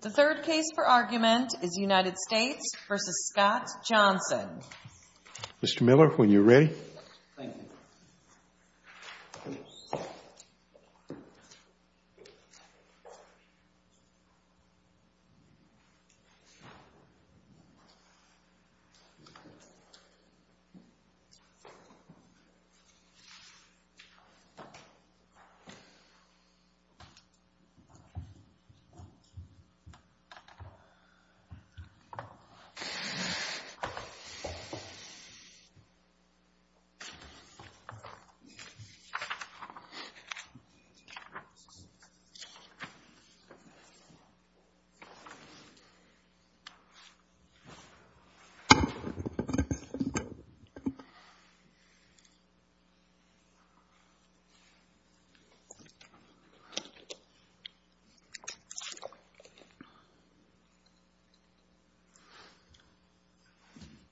The third case for argument is United States v. Scott Johnson. Mr. Miller, when you're ready. Thank you. Thank you, Mr. Miller.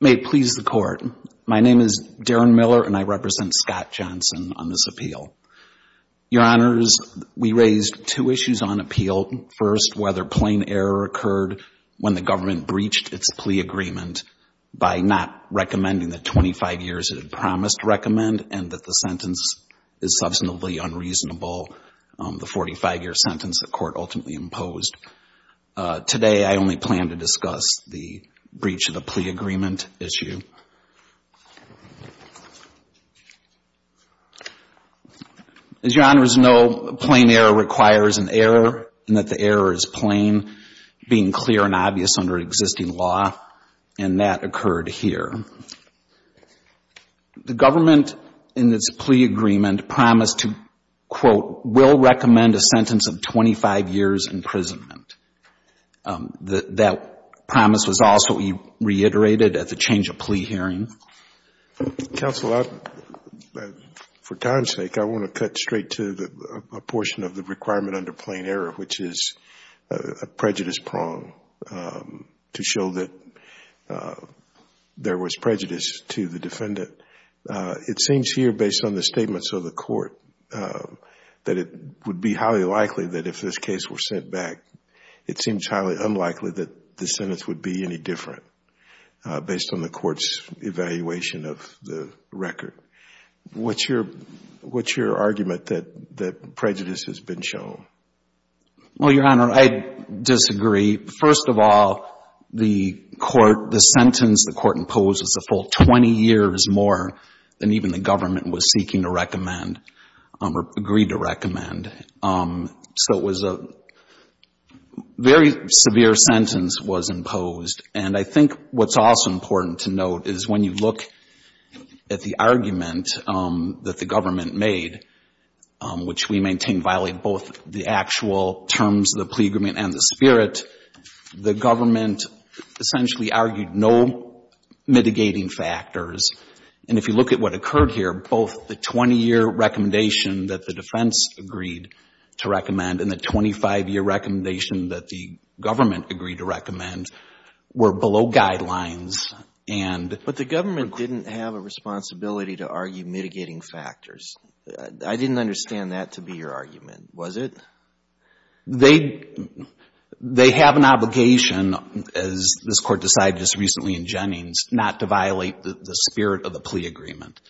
May it please the Court, my name is Darren Miller and I represent Scott Johnson on this Your Honors, we raised two issues on appeal. First, whether plain error occurred when the government breached its plea agreement by not recommending the 25 years it had promised to recommend and that the sentence is substantively unreasonable, the 45-year sentence the Court ultimately imposed. Today, I only plan to discuss the breach of the plea agreement issue. As Your Honors know, plain error requires an error and that the error is plain, being clear and obvious under existing law and that occurred here. The government in its plea agreement promised to, quote, will recommend a sentence of 25 years' imprisonment. That promise was also reiterated at the change of plea hearing. Counsel, for time's sake, I want to cut straight to a portion of the requirement under plain error, which is a prejudice prong to show that there was prejudice to the defendant. It seems here, based on the statements of the Court, that it would be highly likely that if this case were sent back, it seems highly unlikely that the sentence would be any different based on the Court's evaluation of the record. What's your argument that prejudice has been shown? Well, Your Honor, I disagree. First of all, the sentence the Court imposed was a full 20 years more than even the government was seeking to recommend or agreed to recommend. So it was a very severe sentence was imposed. And I think what's also important to note is when you look at the argument that the government made, which we maintain violated both the actual terms of the plea agreement and the spirit, the government essentially argued no mitigating factors. And if you look at what occurred here, both the 20-year recommendation that the defense agreed to recommend and the 25-year recommendation that the government agreed to recommend were below guidelines. But the government didn't have a responsibility to argue mitigating factors. I didn't understand that to be your argument, was it? They have an obligation, as this Court decided just recently in Jennings, not to violate the spirit of the plea agreement.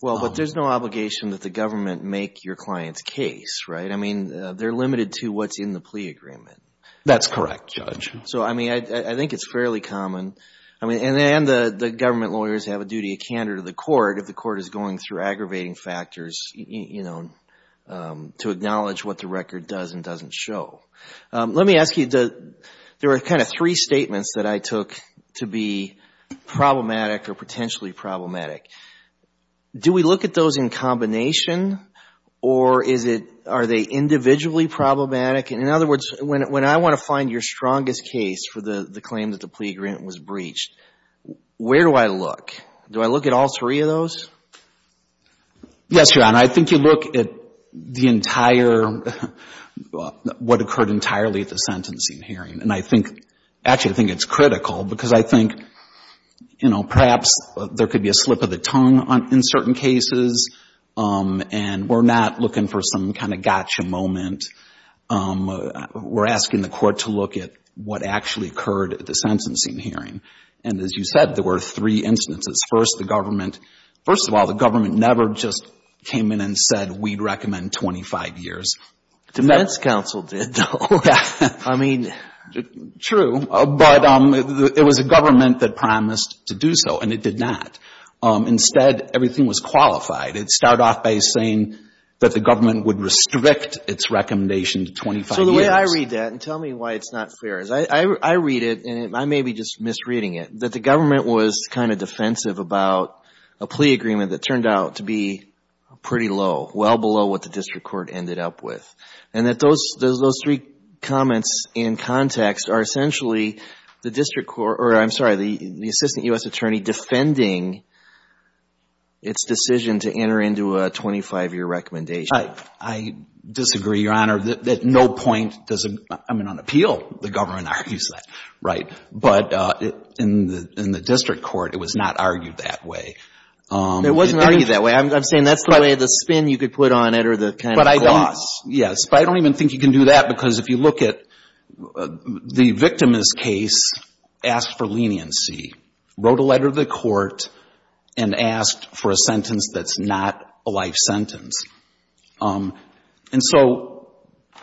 Well, but there's no obligation that the government make your client's case, right? I mean, they're limited to what's in the plea agreement. That's correct, Judge. So, I mean, I think it's fairly common. And the government lawyers have a duty of candor to the court if the court is going through aggravating factors, you know, to acknowledge what the record does and doesn't show. Let me ask you, there were kind of three statements that I took to be problematic or potentially problematic. Do we look at those in combination or are they individually problematic? In other words, when I want to find your strongest case for the claim that the plea agreement was breached, where do I look? Do I look at all three of those? Yes, Your Honor. I think you look at the entire, what occurred entirely at the sentencing hearing. And I think, actually, I think it's critical because I think, you know, perhaps there could be a slip of the tongue in certain cases and we're not looking for some kind of we're asking the court to look at what actually occurred at the sentencing hearing. And, as you said, there were three instances. First, the government, first of all, the government never just came in and said we'd recommend 25 years. Defense counsel did, though. I mean, true. But it was a government that promised to do so, and it did not. Instead, everything was qualified. It started off by saying that the government would restrict its recommendation to 25 years. So the way I read that, and tell me why it's not fair, is I read it, and I may be just misreading it, that the government was kind of defensive about a plea agreement that turned out to be pretty low, well below what the district court ended up with. And that those three comments in context are essentially the district court, or I'm sorry, the assistant U.S. attorney defending its decision to enter into a 25-year recommendation. I disagree, Your Honor. At no point does a, I mean, on appeal, the government argues that. Right. But in the district court, it was not argued that way. It wasn't argued that way. I'm saying that's the way the spin you could put on it, or the kind of clause. Yes. But I don't even think you can do that, because if you look at the victimless case, asked for leniency, wrote a letter to the court, and asked for a sentence that's not a life sentence. And so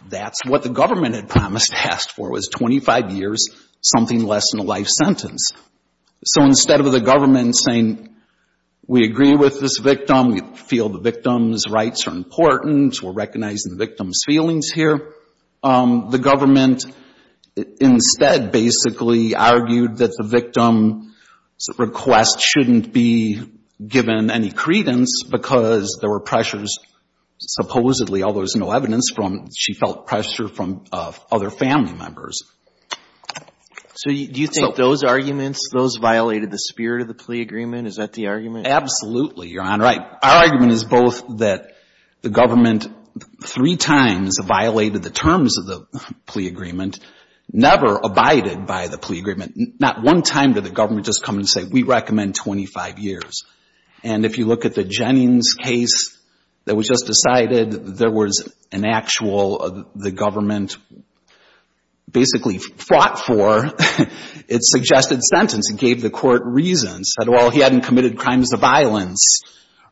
that's what the government had promised to ask for was 25 years, something less than a life sentence. So instead of the government saying, we agree with this victim, we feel the victim's rights are important, we're recognizing the victim's feelings here, the government instead basically argued that the victim's request shouldn't be given any credence, because there were pressures, supposedly, although there's no evidence from, she felt pressure from other family members. So do you think those arguments, those violated the spirit of the plea agreement? Is that the argument? Absolutely, Your Honor. Our argument is both that the government three times violated the terms of the plea agreement, never abided by the plea agreement. Not one time did the government just come and say, we recommend 25 years. And if you look at the Jennings case that was just decided, there was an actual, the government basically fought for its suggested sentence. It gave the court reasons. Said, well, he hadn't committed crimes of violence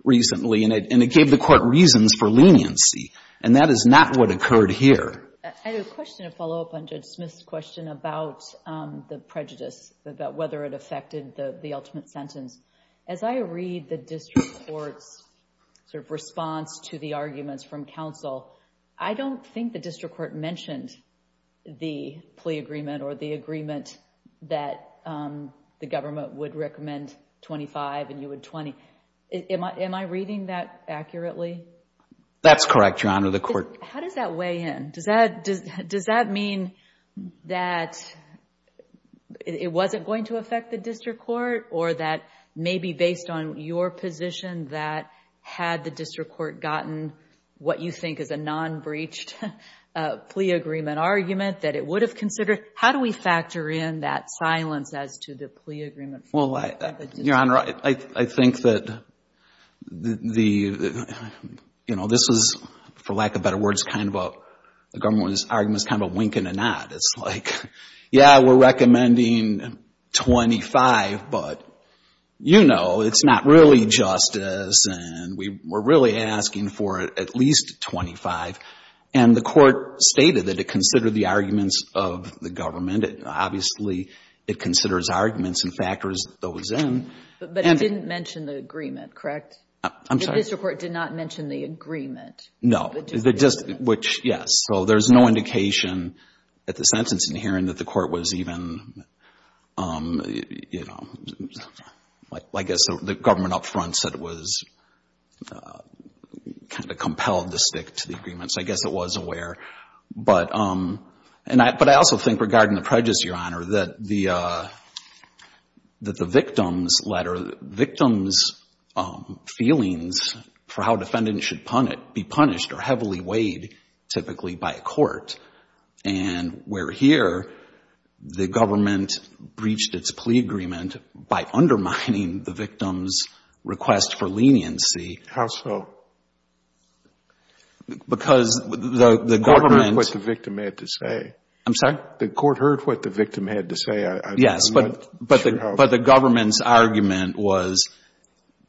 recently, and it gave the court reasons for leniency. And that is not what occurred here. I have a question to follow up on Judge Smith's question about the prejudice, about whether it affected the ultimate sentence. As I read the district court's response to the arguments from counsel, I don't think the district court mentioned the plea agreement or the agreement that the government would recommend 25 and you would 20. Am I reading that accurately? That's correct, Your Honor. The court... How does that weigh in? Does that mean that it wasn't going to affect the district court or that maybe based on your position that had the district court gotten what you think is a non-breached plea agreement argument that it would have considered, how do we factor in that silence as to the plea agreement... The government's argument is kind of a wink and a nod. It's like, yeah, we're recommending 25, but, you know, it's not really justice and we're really asking for at least 25. And the court stated that it considered the arguments of the government. Obviously, it considers arguments and factors those in. But it didn't mention the agreement, correct? I'm sorry? The district court did not mention the agreement. No. The district, which, yes. So there's no indication at the sentence in here that the court was even, you know, I guess the government up front said it was kind of compelled to stick to the agreement. So I guess it was aware. But I also think regarding the prejudice, Your Honor, that the victim's letter, the victim's feelings for how a defendant should be punished are heavily weighed typically by a court. And where here the government breached its plea agreement by undermining the victim's request for leniency... How so? Because the government... The court heard what the victim had to say. I'm sorry? The court heard what the victim had to say. Yes. But the government's argument was,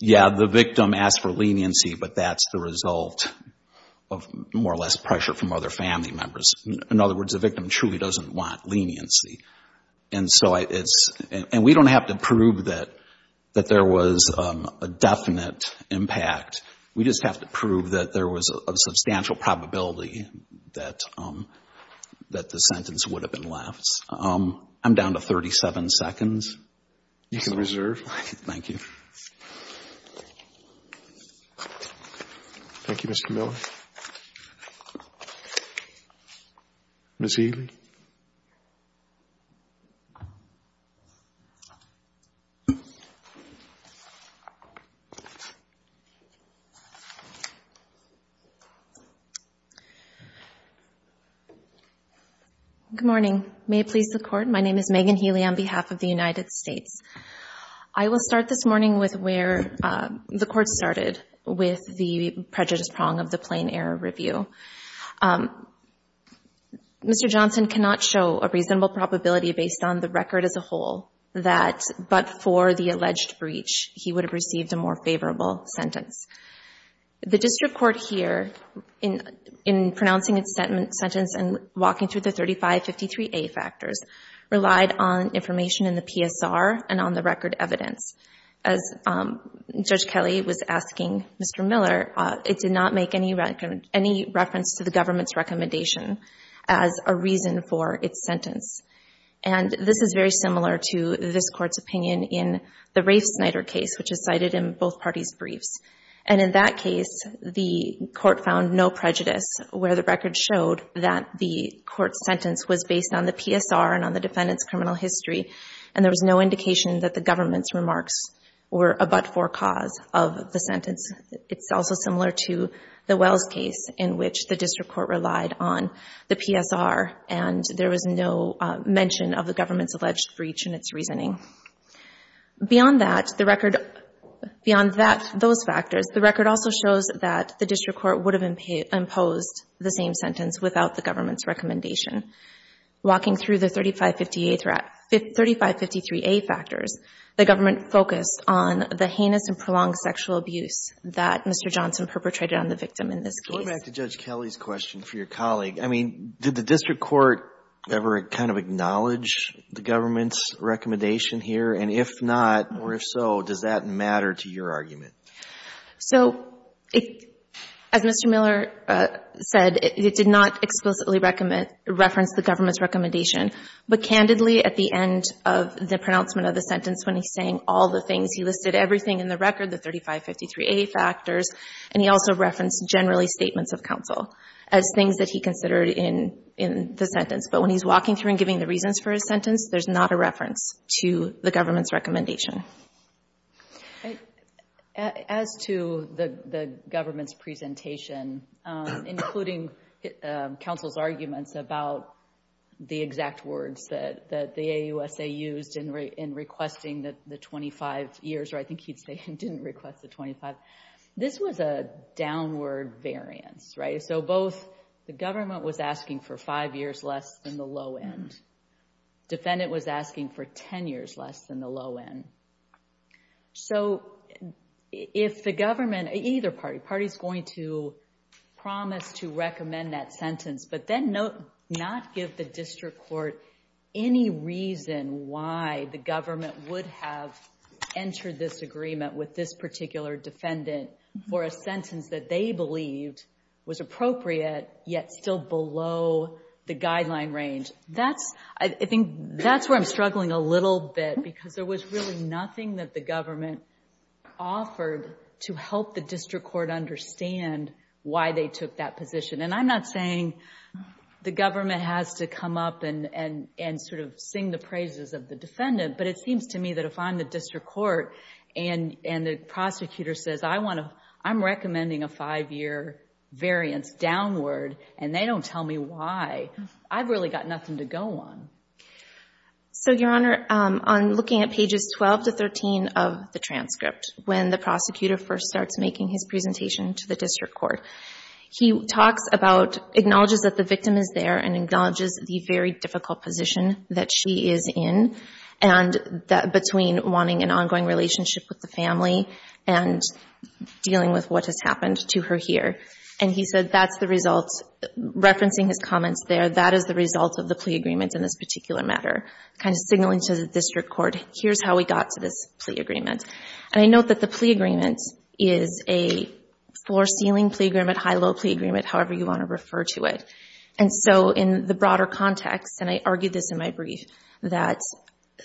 yeah, the victim asked for leniency, but that's the result of more or less pressure from other family members. In other words, the victim truly doesn't want leniency. And so it's... And we don't have to prove that there was a definite impact. We just have to prove that there was a substantial probability that the sentence would have been left. I'm down to 37 seconds. You can reserve. Thank you. Thank you, Mr. Miller. Ms. Healy? Ms. Healy? Good morning. May it please the Court, my name is Megan Healy on behalf of the United States. I will start this morning with where the court started with the prejudice prong of the plain error review. Mr. Johnson cannot show a reasonable probability based on the record as a whole that, but for the alleged breach, he would have received a more favorable sentence. The district court here, in pronouncing its sentence and walking through the 3553A factors, relied on information in the PSR and on the record evidence. As Judge Kelly was asking Mr. Miller, it did not make any record of reference to the government's recommendation as a reason for its sentence. And this is very similar to this Court's opinion in the Rafe-Snyder case, which is cited in both parties' briefs. And in that case, the Court found no prejudice where the record showed that the Court's sentence was based on the PSR and on the defendant's criminal history, and there was no indication that the government's remarks were a but-for cause of the sentence. It's also similar to the Wells case, in which the district court relied on the PSR and there was no mention of the government's alleged breach in its reasoning. Beyond that, the record also shows that the district court would have imposed the same sentence without the government's recommendation. Walking through the 3553A factors, the government focused on the heinous and perpetrated on the victim in this case. Going back to Judge Kelly's question for your colleague, I mean, did the district court ever kind of acknowledge the government's recommendation here? And if not, or if so, does that matter to your argument? So, as Mr. Miller said, it did not explicitly reference the government's recommendation. But candidly, at the end of the pronouncement of the sentence, when he's saying all the things, he listed everything in the record, the 3553A factors, and he also referenced generally statements of counsel as things that he considered in the sentence. But when he's walking through and giving the reasons for his sentence, there's not a reference to the government's recommendation. As to the government's presentation, including counsel's arguments about the exact words that the AUSA used in requesting the 25 years, or I think he'd say he didn't request the 25. This was a downward variance, right? So, both the government was asking for five years less than the low end. Defendant was asking for 10 years less than the low end. So, if the government, either party, party's going to promise to recommend that the district court, any reason why the government would have entered this agreement with this particular defendant for a sentence that they believed was appropriate, yet still below the guideline range. That's, I think, that's where I'm struggling a little bit, because there was really nothing that the government offered to help the district court understand why they took that position. And I'm not saying the government has to come up and sort of sing the praises of the defendant. But it seems to me that if I'm the district court and the prosecutor says, I'm recommending a five-year variance downward, and they don't tell me why, I've really got nothing to go on. So, Your Honor, on looking at pages 12 to 13 of the transcript, when the prosecutor first starts making his presentation to the district court, he talks about, acknowledges that the victim is there and acknowledges the very difficult position that she is in, and between wanting an ongoing relationship with the family and dealing with what has happened to her here. And he said that's the result, referencing his comments there, that is the result of the plea agreement in this particular matter, kind of signaling to the district court, here's how we got to this plea agreement. And I note that the plea agreement is a floor-ceiling plea agreement, high-low plea agreement, however you want to refer to it. And so in the broader context, and I argued this in my brief, that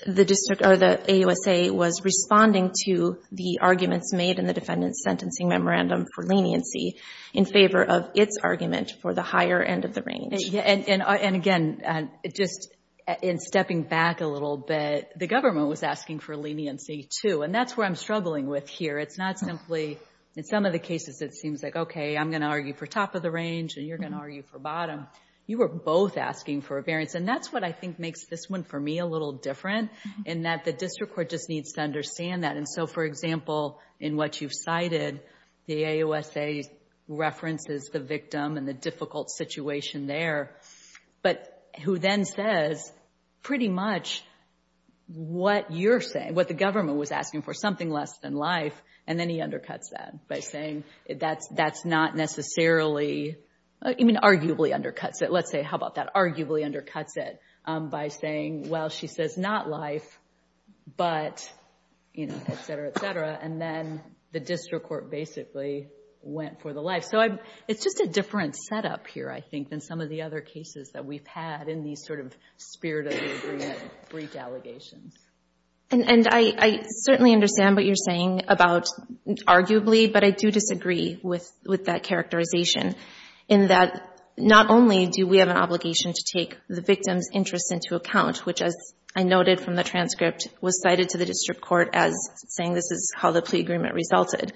the AUSA was responding to the arguments made in the defendant's sentencing memorandum for leniency in favor of its argument for the higher end of the range. And again, just in stepping back a little bit, the government was asking for leniency, too, and that's where I'm struggling with here. It's not simply, in some of the cases it seems like, okay, I'm going to argue for top of the range and you're going to argue for bottom. You were both asking for a variance, and that's what I think makes this one for me a little different, in that the district court just needs to understand that. And so, for example, in what you've cited, the AUSA references the victim and the difficult situation there, but who then says pretty much what you're saying, what the government was asking for, something less than life, and then he undercuts that by saying that's not necessarily, I mean arguably undercuts it. Let's say, how about that, arguably undercuts it by saying, well, she says not life, but, you know, et cetera, et cetera. And then the district court basically went for the life. So it's just a different setup here, I think, than some of the other cases that we've had in these sort of spirit of the agreement brief allegations. And I certainly understand what you're saying about arguably, but I do disagree with that characterization, in that not only do we have an obligation to take the victim's interest into account, which as I noted from the transcript was cited to the district court as saying this is how the plea agreement resulted,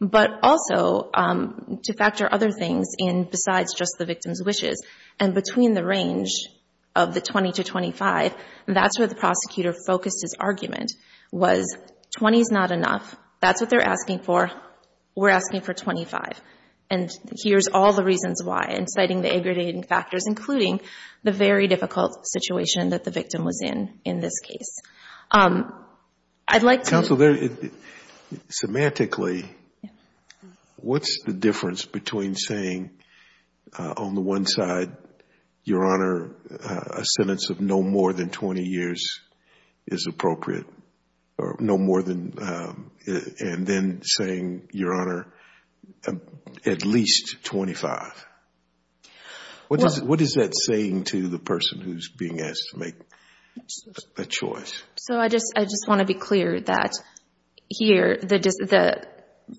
but also to factor other things in besides just the victim's wishes. And between the range of the 20 to 25, that's where the prosecutor focused his argument was 20 is not enough. That's what they're asking for. We're asking for 25. And here's all the reasons why, and citing the aggregating factors, including the very difficult situation that the victim was in in this case. I'd like to... Counsel, semantically, what's the difference between saying on the one side, Your Honor, a sentence of no more than 20 years is appropriate, or no more than, and then saying, Your Honor, at least 25? What is that saying to the person who's being asked to make a choice? So I just want to be clear that here the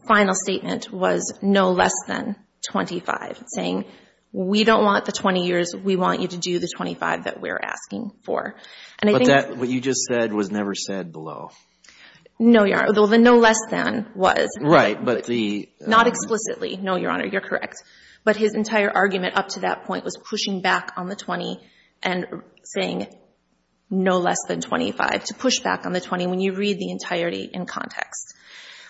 final statement was no less than 25, saying we don't want the 20 years. We want you to do the 25 that we're asking for. But what you just said was never said below. No, Your Honor. Well, the no less than was. Right, but the... Not explicitly. No, Your Honor, you're correct. But his entire argument up to that point was pushing back on the 20 and saying no less than 25, to push back on the 20 when you read the entirety in context.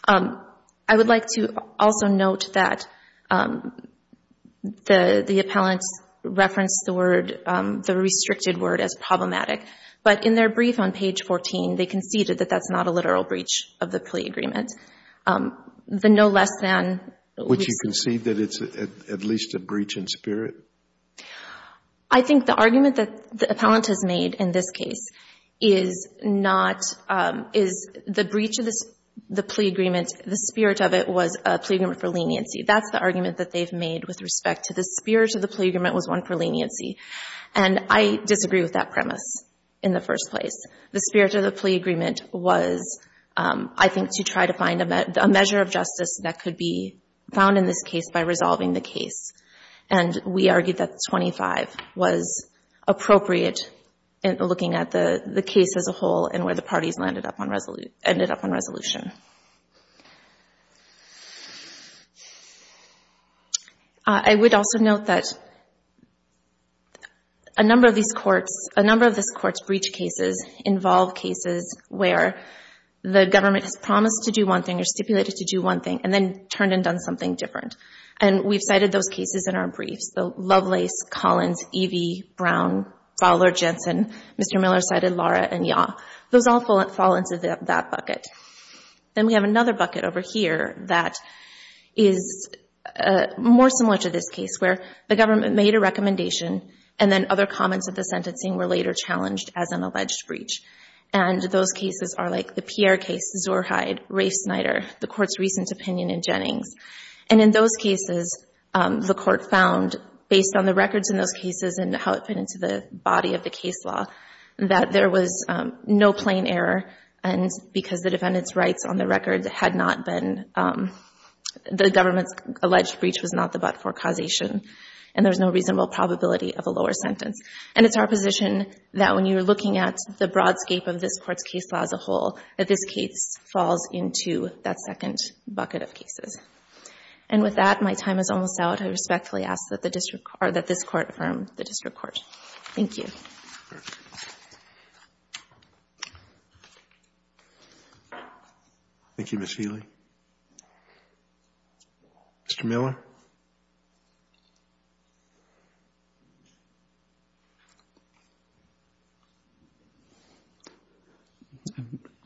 I would like to also note that the appellants referenced the word, the restricted word, as problematic. But in their brief on page 14, they conceded that that's not a literal breach of the plea agreement. The no less than... Which you concede that it's at least a breach in spirit? I think the argument that the appellant has made in this case is not, is the breach of the plea agreement, the spirit of it was a plea agreement for leniency. That's the argument that they've made with respect to the spirit of the plea agreement was one for leniency. And I disagree with that premise in the first place. The spirit of the plea agreement was, I think, to try to find a measure of justice that could be found in this case by resolving the case. And we argued that 25 was appropriate in looking at the case as a whole and where the parties ended up on resolution. I would also note that a number of these courts, a number of these courts' breach cases involve cases where the government has promised to do one thing or stipulated to do one thing and then turned and done something different. And we've cited those cases in our briefs. The Lovelace, Collins, Evey, Brown, Fowler, Jensen, Mr. Miller cited Lara and Yaw. Those all fall into that bucket. Then we have another bucket over here that is more similar to this case where the government made a recommendation and then other comments of the sentencing were later challenged as an alleged breach. And those cases are like the Pierre case, Zurheide, Rafe-Snyder, the Court's recent opinion in Jennings. And in those cases, the Court found, based on the records in those cases and how it fit into the body of the case law, that there was no plain error because the defendant's rights on the record had not been the government's alleged breach was not the but-for causation and there was no reasonable probability of a lower sentence. And it's our position that when you're looking at the broadscape of this Court's case law as a whole, that this case falls into that second bucket of cases. And with that, my time is almost out. I respectfully ask that this Court affirm the district court. Thank you. Thank you, Ms. Feely. Mr. Miller?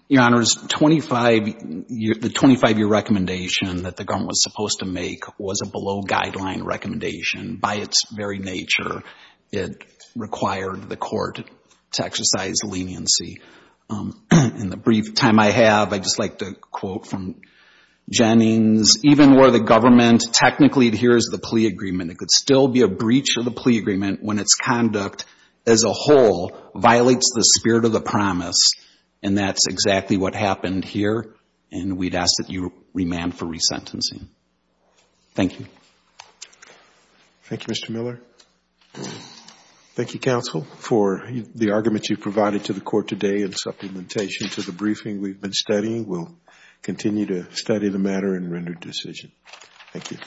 Your Honor, the 25-year recommendation that the government was supposed to make was a below-guideline recommendation. By its very nature, it required the Court to exercise leniency. In the brief time I have, I'd just like to quote from Jennings, even where the government technically adheres to the plea agreement, it could still be a breach of the plea agreement when its conduct as a whole violates the spirit of the promise, and that's exactly what happened here, and we'd ask that you remand for resentencing. Thank you. Thank you, Mr. Miller. Thank you, counsel, for the argument you provided to the Court today in supplementation to the briefing we've been studying. We'll continue to study the matter and render decision. Thank you.